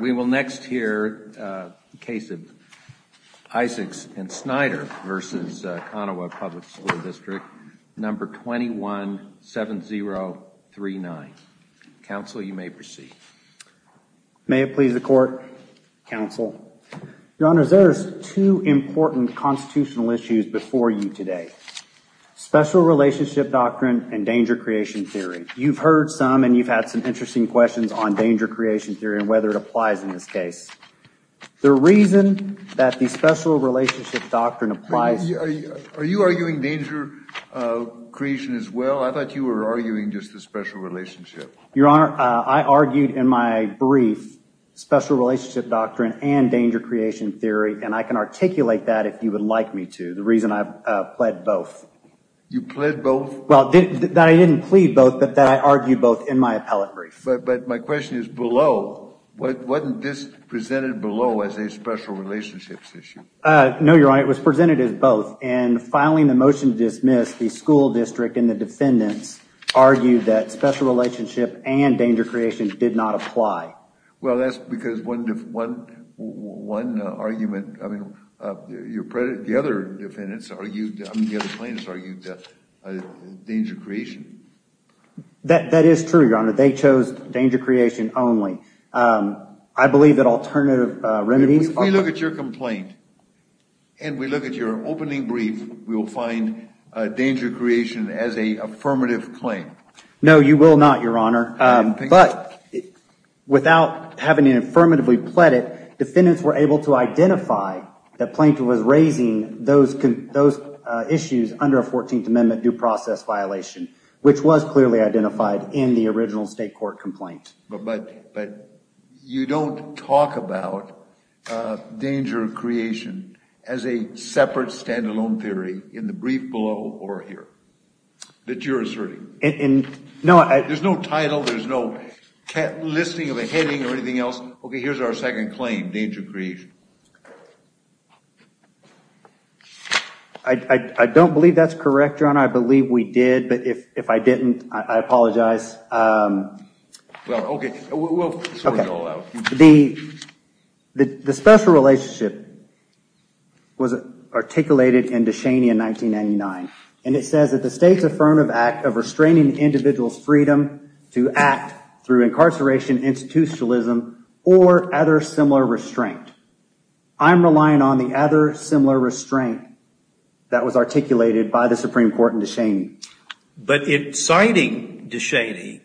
We will next hear the case of Isaacs v. Snyder v. Konawa Public School District, number 217039. Counsel, you may proceed. May it please the Court, Counsel. Your Honor, there are two important constitutional issues before you today. Special relationship doctrine and danger creation theory. You've heard some and you've had some interesting questions on danger creation theory and whether it applies in this case. The reason that the special relationship doctrine applies… Are you arguing danger creation as well? I thought you were arguing just the special relationship. Your Honor, I argued in my brief special relationship doctrine and danger creation theory, and I can articulate that if you would like me to. The reason I've pled both. You pled both? Well, that I didn't plead both, but that I argued both in my appellate brief. But my question is, below, wasn't this presented below as a special relationships issue? No, Your Honor, it was presented as both. And filing the motion to dismiss, the school district and the defendants argued that special relationship and danger creation did not apply. Well, that's because one argument, I mean, the other defendants argued, I mean, the other plaintiffs argued danger creation. That is true, Your Honor. They chose danger creation only. I believe that alternative remedies… If we look at your complaint and we look at your opening brief, we will find danger creation as an affirmative claim. No, you will not, Your Honor. But without having it affirmatively pleaded, defendants were able to identify that Plaintiff was raising those issues under a 14th Amendment due process violation, which was clearly identified in the original state court complaint. But you don't talk about danger creation as a separate stand-alone theory in the brief below or here that you're asserting. There's no title. There's no listing of a heading or anything else. Okay, here's our second claim, danger creation. I don't believe that's correct, Your Honor. I believe we did, but if I didn't, I apologize. Well, okay. We'll sort it all out. The special relationship was articulated in De Cheney in 1999, and it says that the state's affirmative act of restraining the individual's freedom to act through incarceration, institutionalism, or other similar restraint. I'm relying on the other similar restraint that was articulated by the Supreme Court in De Cheney. But in citing De Cheney,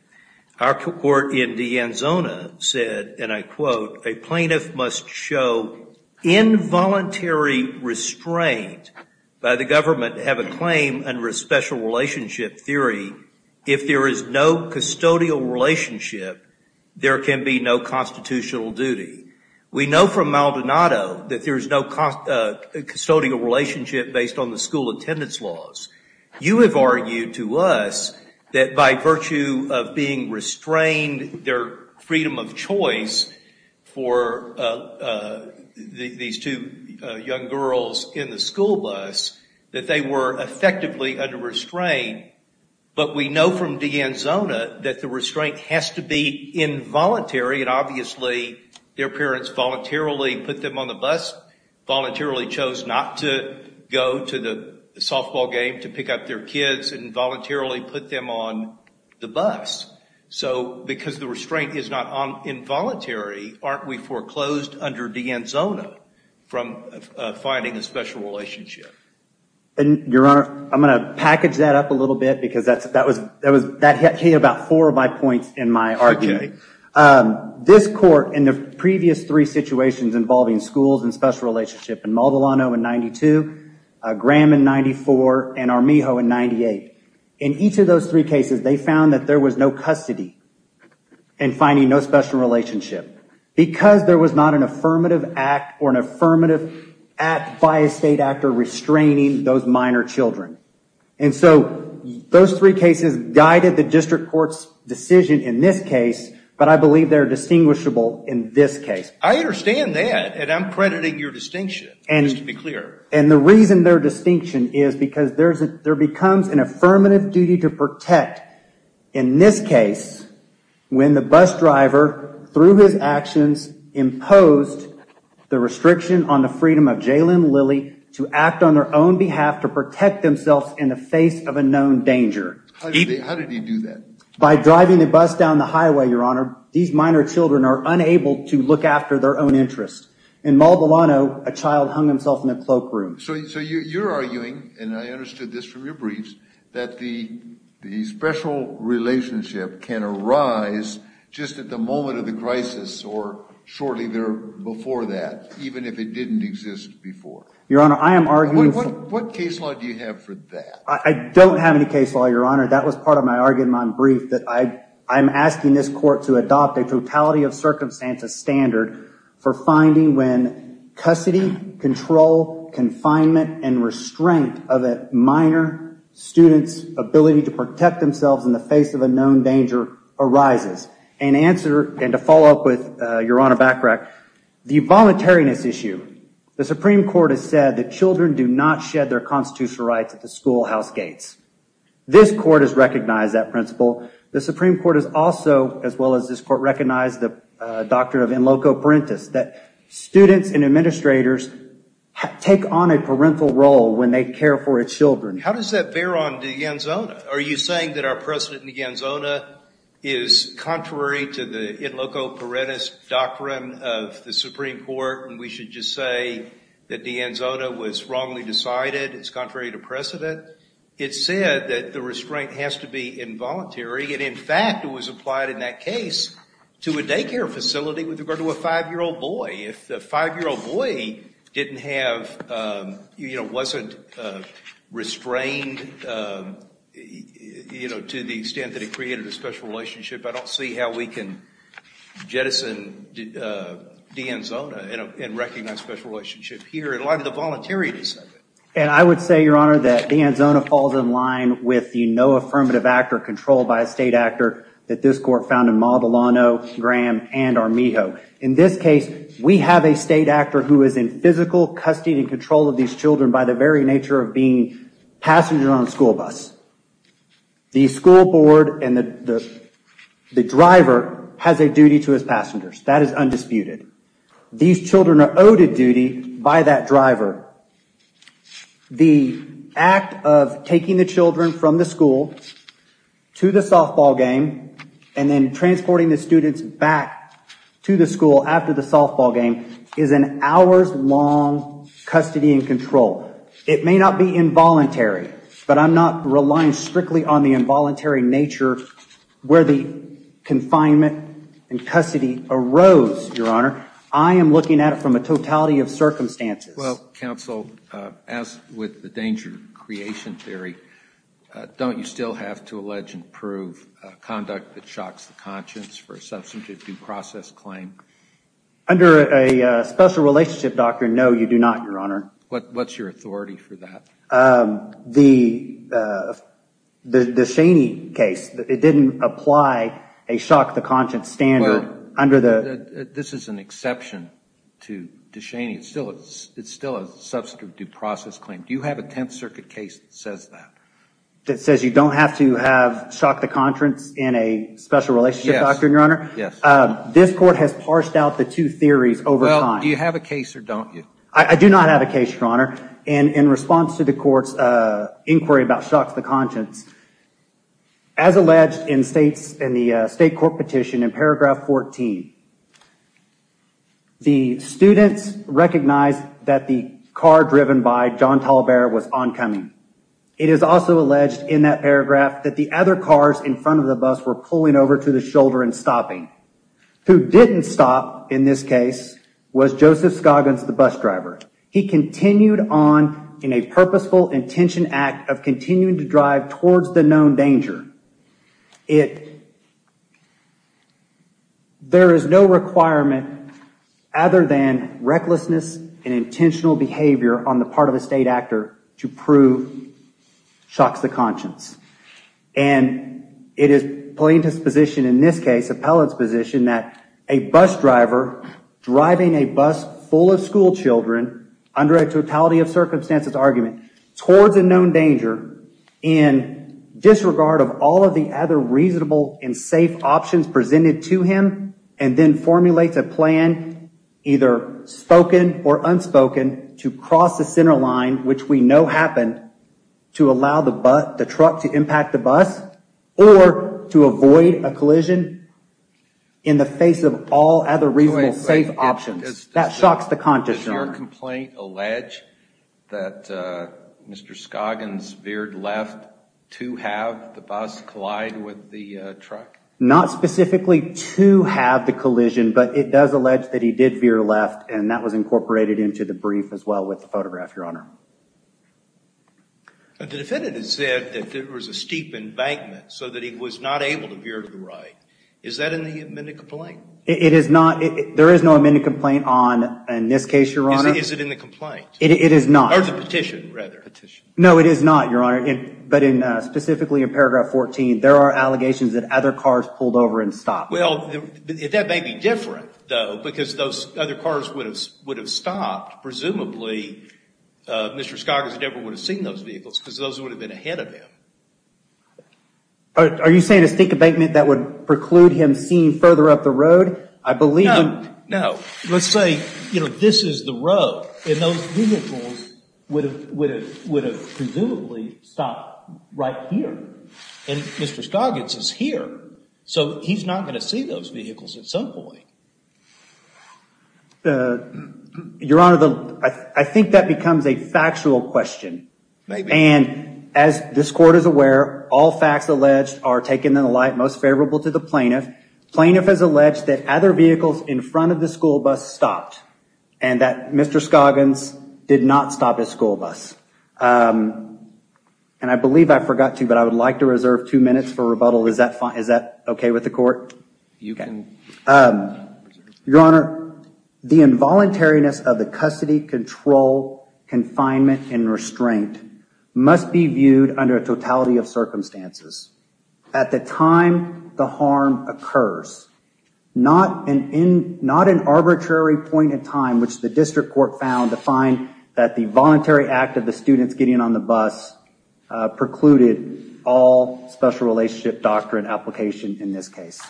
our court in De Anzona said, and I quote, A plaintiff must show involuntary restraint by the government to have a claim under a special relationship theory. If there is no custodial relationship, there can be no constitutional duty. We know from Maldonado that there is no custodial relationship based on the school attendance laws. You have argued to us that by virtue of being restrained their freedom of choice for these two young girls in the school bus, that they were effectively under restraint. But we know from De Anzona that the restraint has to be involuntary, and obviously their parents voluntarily put them on the bus, voluntarily chose not to go to the softball game to pick up their kids, and voluntarily put them on the bus. So because the restraint is not involuntary, aren't we foreclosed under De Anzona from finding a special relationship? Your Honor, I'm going to package that up a little bit because that hit about four of my points in my argument. This court, in the previous three situations involving schools and special relationships, in Maldonado in 92, Graham in 94, and Armijo in 98, in each of those three cases, they found that there was no custody in finding no special relationship. Because there was not an affirmative act or an affirmative act by a state actor restraining those minor children. And so those three cases guided the district court's decision in this case, but I believe they're distinguishable in this case. I understand that, and I'm crediting your distinction, just to be clear. And the reason their distinction is because there becomes an affirmative duty to protect. In this case, when the bus driver, through his actions, imposed the restriction on the freedom of Jalen and Lily to act on their own behalf to protect themselves in the face of a known danger. How did he do that? By driving the bus down the highway, Your Honor. These minor children are unable to look after their own interests. In Maldonado, a child hung himself in a cloakroom. So you're arguing, and I understood this from your briefs, that the special relationship can arise just at the moment of the crisis or shortly before that, even if it didn't exist before. Your Honor, I am arguing... What case law do you have for that? I don't have any case law, Your Honor. That was part of my argument in my brief, that I'm asking this court to adopt a totality of circumstances standard for finding when custody, control, confinement, and restraint of a minor student's ability to protect themselves in the face of a known danger arises. And to follow up with Your Honor Bachrach, the voluntariness issue. The Supreme Court has said that children do not shed their constitutional rights at the schoolhouse gates. This court has recognized that principle. The Supreme Court has also, as well as this court, recognized the doctrine of in loco parentis, that students and administrators take on a parental role when they care for its children. How does that bear on De Anzona? Are you saying that our precedent in De Anzona is contrary to the in loco parentis doctrine of the Supreme Court and we should just say that De Anzona was wrongly decided? It's contrary to precedent? It said that the restraint has to be involuntary. And in fact, it was applied in that case to a daycare facility with regard to a five-year-old boy. If the five-year-old boy didn't have, you know, wasn't restrained, you know, to the extent that it created a special relationship, I don't see how we can jettison De Anzona and recognize special relationship here. And a lot of the voluntariness of it. And I would say, Your Honor, that De Anzona falls in line with the no affirmative act or control by a state actor that this court found in Mabalano, Graham, and Armijo. In this case, we have a state actor who is in physical custody and control of these children by the very nature of being passengers on a school bus. The school board and the driver has a duty to his passengers. That is undisputed. These children are owed a duty by that driver. The act of taking the children from the school to the softball game and then transporting the students back to the school after the softball game is an hours-long custody and control. It may not be involuntary, but I'm not relying strictly on the involuntary nature where the confinement and custody arose, Your Honor. I am looking at it from a totality of circumstances. Well, counsel, as with the danger creation theory, don't you still have to allege and prove conduct that shocks the conscience for a substantive due process claim? Under a special relationship doctrine, no, you do not, Your Honor. What's your authority for that? The DeShaney case, it didn't apply a shock the conscience standard under the… Well, this is an exception to DeShaney. It's still a substantive due process claim. Do you have a Tenth Circuit case that says that? That says you don't have to have shock the conscience in a special relationship doctrine, Your Honor? Yes. This court has parsed out the two theories over time. Well, do you have a case or don't you? I do not have a case, Your Honor. And in response to the court's inquiry about shock the conscience, as alleged in the state court petition in paragraph 14, the students recognized that the car driven by John TallBear was oncoming. It is also alleged in that paragraph that the other cars in front of the bus were pulling over to the shoulder and stopping. Who didn't stop in this case was Joseph Scoggins, the bus driver. He continued on in a purposeful intention act of continuing to drive towards the known danger. There is no requirement other than recklessness and intentional behavior on the part of a state actor to prove shock the conscience. And it is plaintiff's position in this case, appellate's position, that a bus driver driving a bus full of school children under a totality of circumstances argument towards a known danger in disregard of all of the other reasonable and safe options presented to him and then formulates a plan, either spoken or unspoken, to cross the center line, which we know happened, to allow the truck to impact the bus, or to avoid a collision in the face of all other reasonable safe options. That shocks the conscience, Your Honor. Does your complaint allege that Mr. Scoggins veered left to have the bus collide with the truck? Not specifically to have the collision, but it does allege that he did veer left and that was incorporated into the brief as well with the photograph, Your Honor. The defendant has said that there was a steep embankment so that he was not able to veer to the right. Is that in the amended complaint? It is not. There is no amended complaint on this case, Your Honor. Is it in the complaint? It is not. Or the petition, rather. Petition. No, it is not, Your Honor. But specifically in paragraph 14, there are allegations that other cars pulled over and stopped. Well, that may be different, though, because those other cars would have stopped. Presumably, Mr. Scoggins never would have seen those vehicles because those would have been ahead of him. Are you saying a steep embankment that would preclude him seeing further up the road? No, no. Let's say, you know, this is the road, and those vehicles would have presumably stopped right here. And Mr. Scoggins is here, so he's not going to see those vehicles at some point. Your Honor, I think that becomes a factual question. Maybe. And as this Court is aware, all facts alleged are taken in the light most favorable to the plaintiff. Plaintiff has alleged that other vehicles in front of the school bus stopped and that Mr. Scoggins did not stop his school bus. And I believe I forgot to, but I would like to reserve two minutes for rebuttal. Is that okay with the Court? You can. Your Honor, the involuntariness of the custody, control, confinement, and restraint must be viewed under a totality of circumstances. At the time the harm occurs, not an arbitrary point in time, which the District Court found to find that the voluntary act of the students getting on the bus precluded all special relationship doctrine application in this case.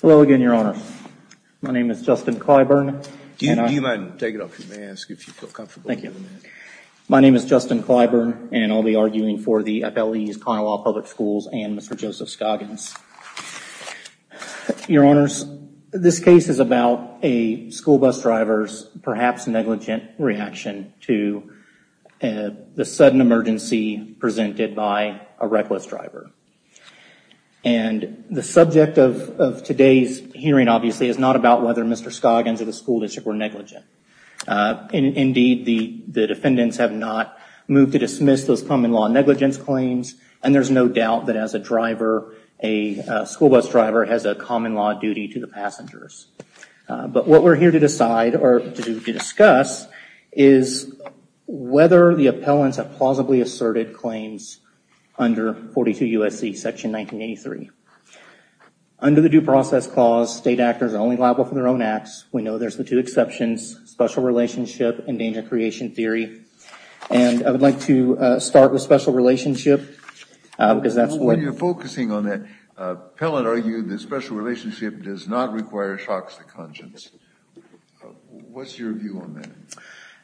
Hello again, Your Honor. My name is Justin Clyburn. Do you mind taking off your mask if you feel comfortable? Thank you. My name is Justin Clyburn, and I'll be arguing for the FLE's Conaway Public Schools and Mr. Joseph Scoggins. Your Honors, this case is about a school bus driver's perhaps negligent reaction to the sudden emergency presented by a reckless driver. And the subject of today's hearing, obviously, is not about whether Mr. Scoggins or the school district were negligent. Indeed, the defendants have not moved to dismiss those common law negligence claims, and there's no doubt that as a driver, a school bus driver has a common law duty to the passengers. But what we're here to decide, or to discuss, is whether the appellants have plausibly asserted claims under 42 U.S.C. Section 1983. Under the Due Process Clause, state actors are only liable for their own acts. We know there's the two exceptions, special relationship and danger creation theory. And I would like to start with special relationship, because that's what- When you're focusing on that, appellant argued that special relationship does not require shocks to conscience. What's your view on that?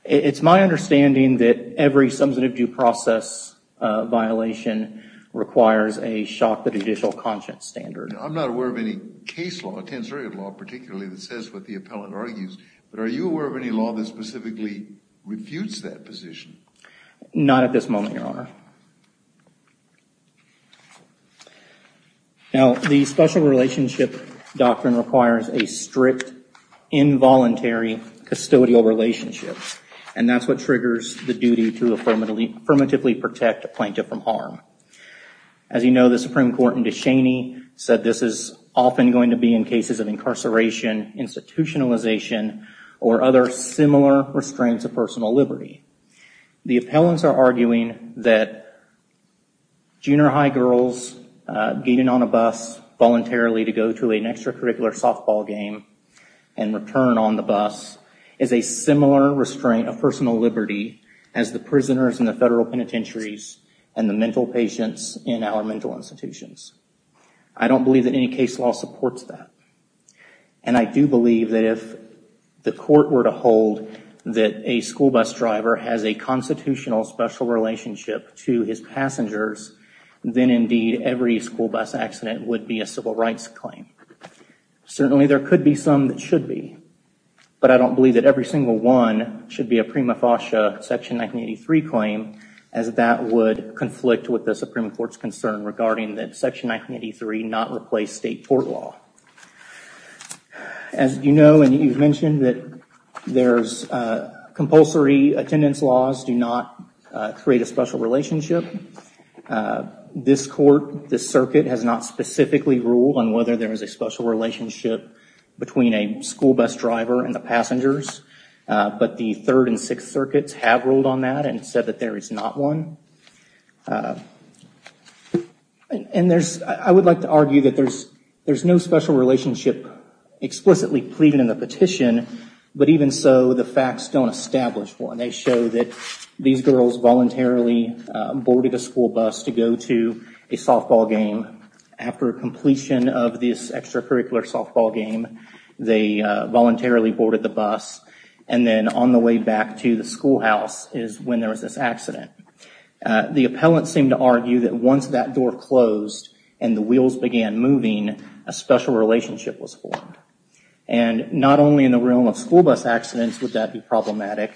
It's my understanding that every substantive due process violation requires a shock to judicial conscience standard. I'm not aware of any case law, a tensority law particularly, that says what the appellant argues. But are you aware of any law that specifically refutes that position? Not at this moment, Your Honor. Now, the special relationship doctrine requires a strict, involuntary, custodial relationship. And that's what triggers the duty to affirmatively protect a plaintiff from harm. As you know, the Supreme Court in De Cheney said this is often going to be in cases of incarceration, institutionalization, or other similar restraints of personal liberty. The appellants are arguing that junior high girls getting on a bus voluntarily to go to an extracurricular softball game and return on the bus is a similar restraint of personal liberty as the prisoners in the federal penitentiaries and the mental patients in our mental institutions. I don't believe that any case law supports that. And I do believe that if the court were to hold that a school bus driver has a constitutional special relationship to his passengers, then indeed every school bus accident would be a civil rights claim. Certainly there could be some that should be. But I don't believe that every single one should be a prima facie Section 1983 claim, as that would conflict with the Supreme Court's concern regarding that Section 1983 not replace state court law. As you know and you've mentioned, compulsory attendance laws do not create a special relationship. This court, this circuit, has not specifically ruled on whether there is a special relationship between a school bus driver and the passengers. But the Third and Sixth Circuits have ruled on that and said that there is not one. And I would like to argue that there's no special relationship explicitly pleaded in the petition, but even so the facts don't establish one. They show that these girls voluntarily boarded a school bus to go to a softball game. After completion of this extracurricular softball game, they voluntarily boarded the bus. And then on the way back to the schoolhouse is when there was this accident. The appellant seemed to argue that once that door closed and the wheels began moving, a special relationship was formed. And not only in the realm of school bus accidents would that be problematic,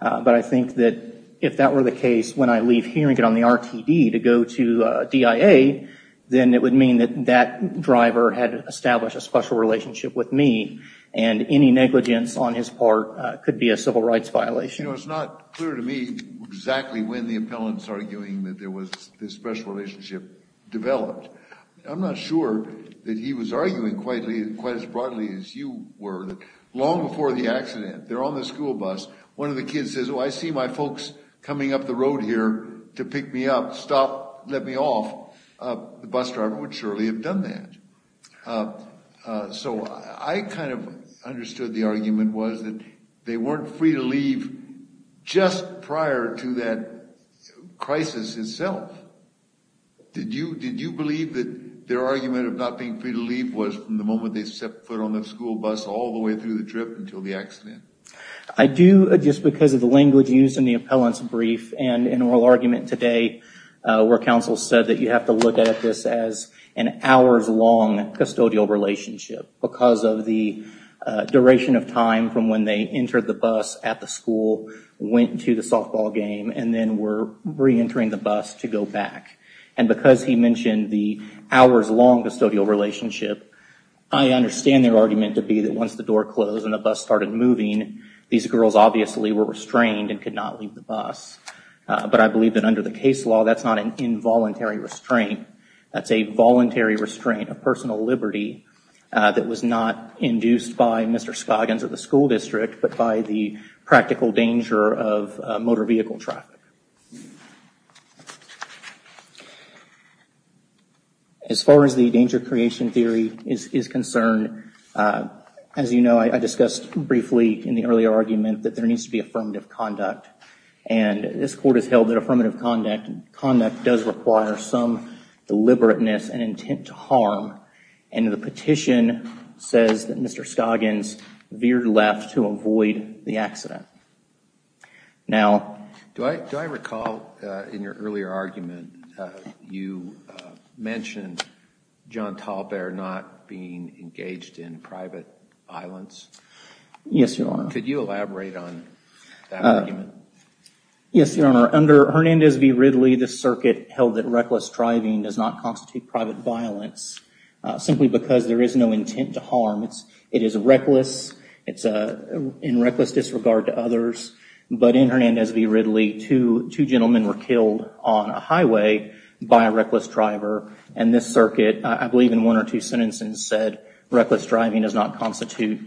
but I think that if that were the case when I leave hearing it on the RTD to go to DIA, then it would mean that that driver had established a special relationship with me and any negligence on his part could be a civil rights violation. You know, it's not clear to me exactly when the appellant's arguing that there was this special relationship developed. I'm not sure that he was arguing quite as broadly as you were. Long before the accident, they're on the school bus. One of the kids says, oh, I see my folks coming up the road here to pick me up. Stop, let me off. The bus driver would surely have done that. So I kind of understood the argument was that they weren't free to leave just prior to that crisis itself. Did you believe that their argument of not being free to leave was from the moment they stepped foot on the school bus all the way through the trip until the accident? I do, just because of the language used in the appellant's brief and in oral argument today, where counsel said that you have to look at this as an hours-long custodial relationship because of the duration of time from when they entered the bus at the school, went to the softball game, and then were reentering the bus to go back. And because he mentioned the hours-long custodial relationship, I understand their argument to be that once the door closed and the bus started moving, these girls obviously were restrained and could not leave the bus. But I believe that under the case law, that's not an involuntary restraint. That's a voluntary restraint of personal liberty that was not induced by Mr. Spoggins at the school district, but by the practical danger of motor vehicle traffic. As far as the danger-creation theory is concerned, as you know, I discussed briefly in the earlier argument that there needs to be affirmative conduct. And this Court has held that affirmative conduct does require some deliberateness and intent to harm. And the petition says that Mr. Spoggins veered left to avoid the accident. Do I recall in your earlier argument you mentioned John Talbert not being engaged in private violence? Yes, Your Honor. Could you elaborate on that argument? Yes, Your Honor. Under Hernandez v. Ridley, the circuit held that reckless driving does not constitute private violence simply because there is no intent to harm. It is reckless. It's in reckless disregard to others. But in Hernandez v. Ridley, two gentlemen were killed on a highway by a reckless driver. And this circuit, I believe in one or two sentences, said reckless driving does not constitute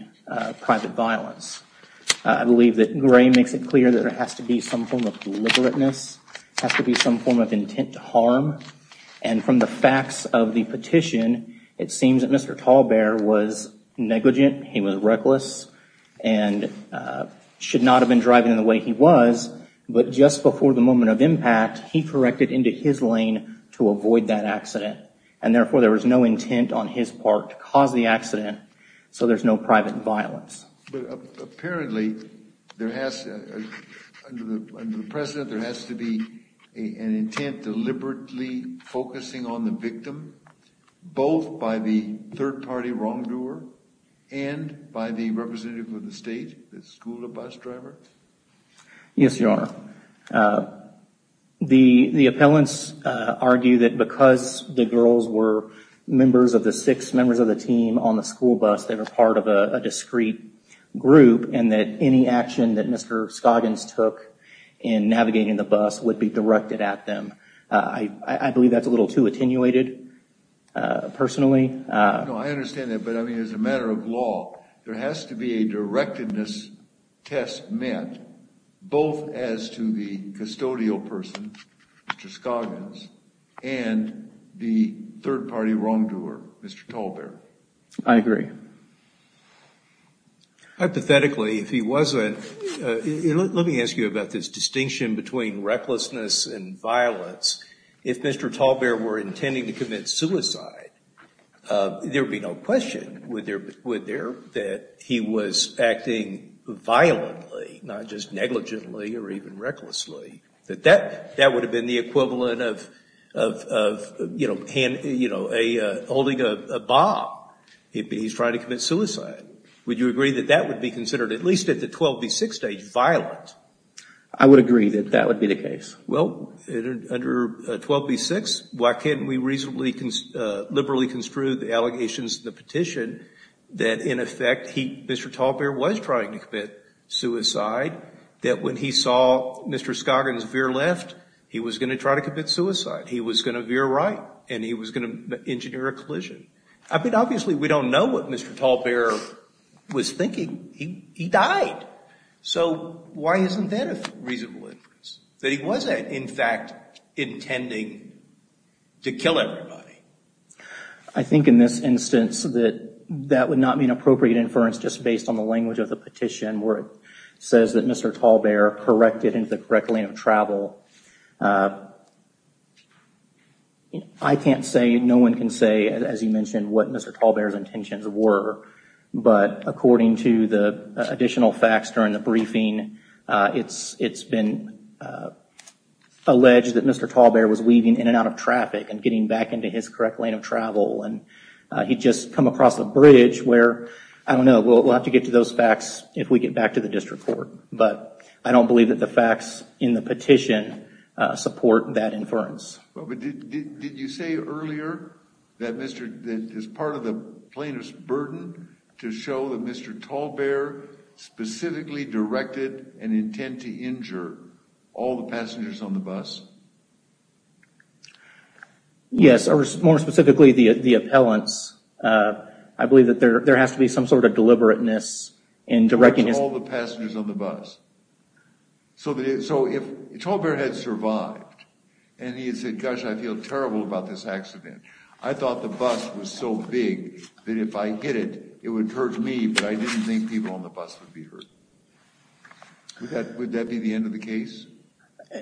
private violence. I believe that Gray makes it clear that there has to be some form of deliberateness. There has to be some form of intent to harm. And from the facts of the petition, it seems that Mr. Talbert was negligent. He was reckless and should not have been driving in the way he was. But just before the moment of impact, he corrected into his lane to avoid that accident. And therefore, there was no intent on his part to cause the accident. So there's no private violence. But apparently, under the precedent, there has to be an intent deliberately focusing on the victim, both by the third-party wrongdoer and by the representative of the state, the school bus driver? Yes, Your Honor. The appellants argue that because the girls were members of the six members of the team on the school bus, they were part of a discrete group and that any action that Mr. Scoggins took in navigating the bus would be directed at them. I believe that's a little too attenuated, personally. No, I understand that. But, I mean, as a matter of law, there has to be a directedness test met both as to the custodial person, Mr. Scoggins, and the third-party wrongdoer, Mr. Talbert. I agree. Hypothetically, if he wasn't, let me ask you about this distinction between recklessness and violence. If Mr. Talbert were intending to commit suicide, there would be no question, would there, that he was acting violently, not just negligently or even recklessly, that that would have been the equivalent of, you know, holding a bomb. He's trying to commit suicide. Would you agree that that would be considered, at least at the 12 v. 6 stage, violent? I would agree that that would be the case. Well, under 12 v. 6, why can't we reasonably, liberally construe the allegations in the petition that, in effect, Mr. Talbert was trying to commit suicide, that when he saw Mr. Scoggins veer left, he was going to try to commit suicide. He was going to veer right, and he was going to engineer a collision. I mean, obviously, we don't know what Mr. Talbert was thinking. He died. So why isn't that a reasonable inference, that he wasn't, in fact, intending to kill everybody? I think in this instance that that would not be an appropriate inference just based on the language of the petition where it says that Mr. Talbert corrected into the correct lane of travel. I can't say, no one can say, as you mentioned, what Mr. Talbert's intentions were, but according to the additional facts during the briefing, it's been alleged that Mr. Talbert was weaving in and out of traffic and getting back into his correct lane of travel, and he'd just come across a bridge where, I don't know, we'll have to get to those facts if we get back to the district court. But I don't believe that the facts in the petition support that inference. But did you say earlier that as part of the plaintiff's burden to show that Mr. Talbert specifically directed an intent to injure all the passengers on the bus? Yes, or more specifically, the appellants. I believe that there has to be some sort of deliberateness in directing this. All the passengers on the bus. So if Talbert had survived and he had said, gosh, I feel terrible about this accident, I thought the bus was so big that if I hit it, it would hurt me, but I didn't think people on the bus would be hurt. Would that be the end of the case?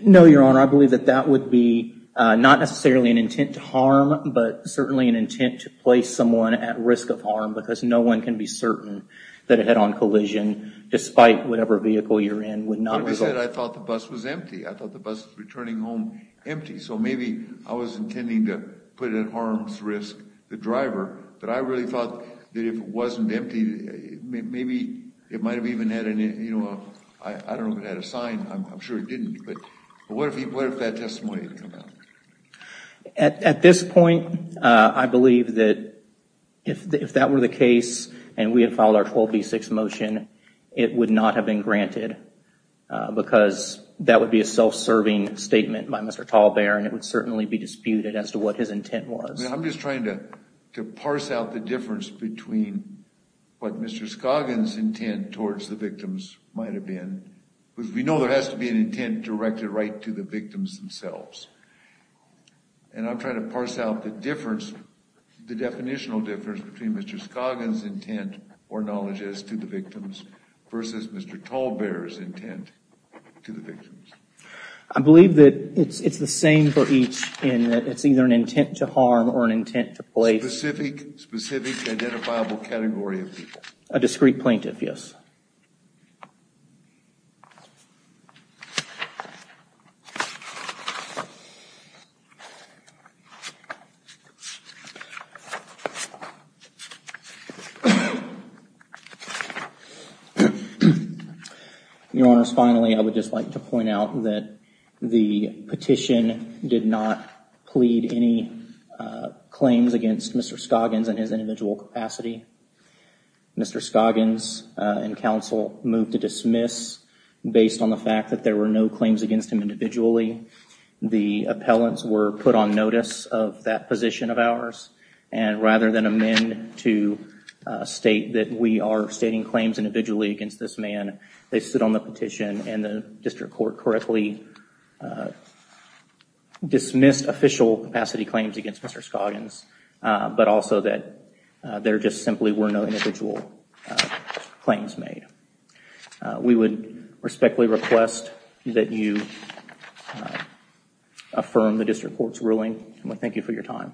No, Your Honor. I believe that that would be not necessarily an intent to harm, but certainly an intent to place someone at risk of harm because no one can be certain that a head-on collision, despite whatever vehicle you're in, would not result. I thought the bus was empty. I thought the bus returning home empty. So maybe I was intending to put at harm's risk the driver, but I really thought that if it wasn't empty, maybe it might have even had a sign. I'm sure it didn't. But what if that testimony had come out? At this point, I believe that if that were the case and we had filed our 12B6 motion, it would not have been granted because that would be a self-serving statement by Mr. Talbert and it would certainly be disputed as to what his intent was. I'm just trying to parse out the difference between what Mr. Scoggin's intent towards the victims might have been. Because we know there has to be an intent directed right to the victims themselves. And I'm trying to parse out the difference, the definitional difference between Mr. Scoggin's intent or knowledge as to the victims versus Mr. Talbert's intent to the victims. I believe that it's the same for each in that it's either an intent to harm or an intent to place. A specific identifiable category of people. A discrete plaintiff, yes. Your Honors, finally, I would just like to point out that the petition did not plead any claims against Mr. Scoggins in his individual capacity. Mr. Scoggins and counsel moved to dismiss based on the fact that there were no claims against him individually. The appellants were put on notice of that position of ours and rather than amend to state that we are stating claims individually against this man, they stood on the petition and the district court correctly dismissed official capacity claims against Mr. Scoggins. But also that there just simply were no individual claims made. We would respectfully request that you affirm the district court's ruling. And we thank you for your time. Thank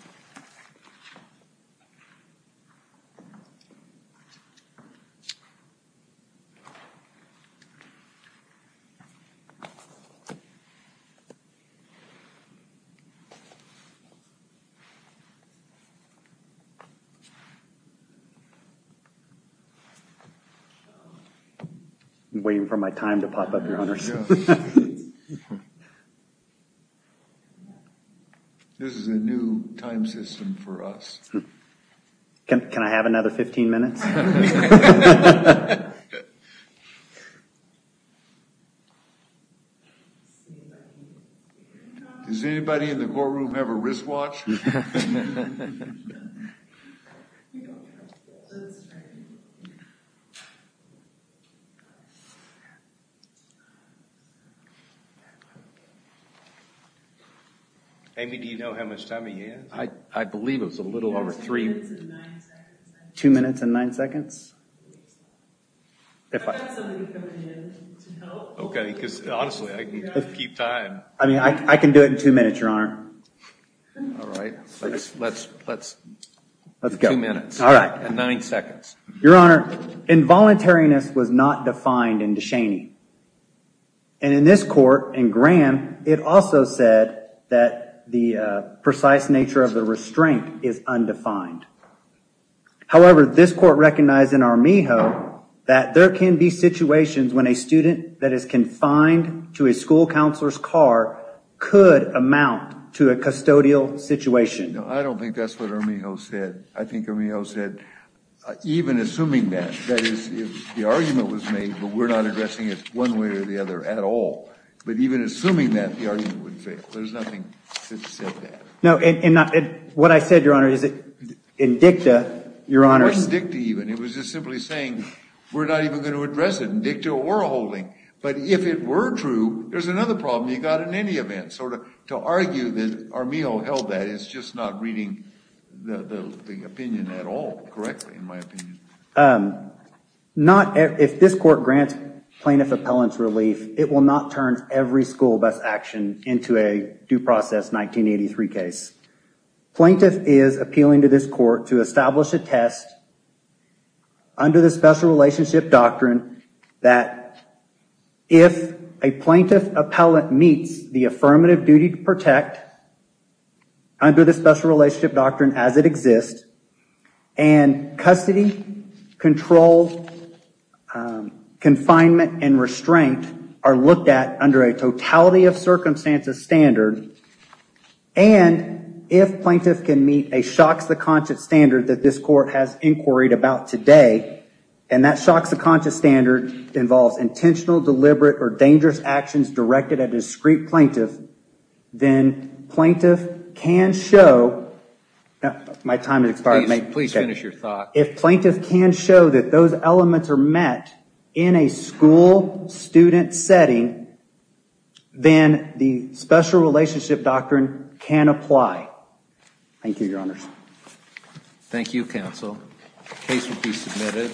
you. I'm waiting for my time to pop up, Your Honors. This is a new time system for us. Can I have another 15 minutes? Does everybody in the courtroom have a wristwatch? Amy, do you know how much time he has? I believe it's a little over three. Two minutes and nine seconds? Okay, because honestly, I can keep time. I mean, I can do it in two minutes, Your Honor. All right, let's do two minutes and nine seconds. Your Honor, involuntariness was not defined in DeShaney. And in this court, in Graham, it also said that the precise nature of the restraint is undefined. However, this court recognized in Armijo that there can be situations when a student that is confined to a school counselor's car could amount to a custodial situation. No, I don't think that's what Armijo said. I think Armijo said, even assuming that, that is, if the argument was made, but we're not addressing it one way or the other at all. But even assuming that, the argument would fail. There's nothing to say that. No, and what I said, Your Honor, is that in DICTA, Your Honor, It wasn't DICTA even. It was just simply saying, we're not even going to address it in DICTA or a holding. But if it were true, there's another problem you got in any event. So to argue that Armijo held that, is just not reading the opinion at all correctly, in my opinion. If this court grants plaintiff appellant's relief, it will not turn every school bus action into a due process 1983 case. Plaintiff is appealing to this court to establish a test under the Special Relationship Doctrine that if a plaintiff appellant meets the affirmative duty to protect under the Special Relationship Doctrine as it exists, and custody, control, confinement, and restraint are looked at under a totality of circumstances standard, and if plaintiff can meet a shocks-the-conscious standard that this court has inquired about today, and that shocks-the-conscious standard involves intentional, deliberate, or dangerous actions directed at a discreet plaintiff, then plaintiff can show, if plaintiff can show that those elements are met in a school student setting, then the Special Relationship Doctrine can apply. Thank you, Your Honors. Thank you, Counsel. Case will be submitted.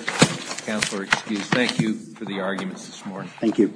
Counselor, excused. Thank you for the arguments this morning. Thank you.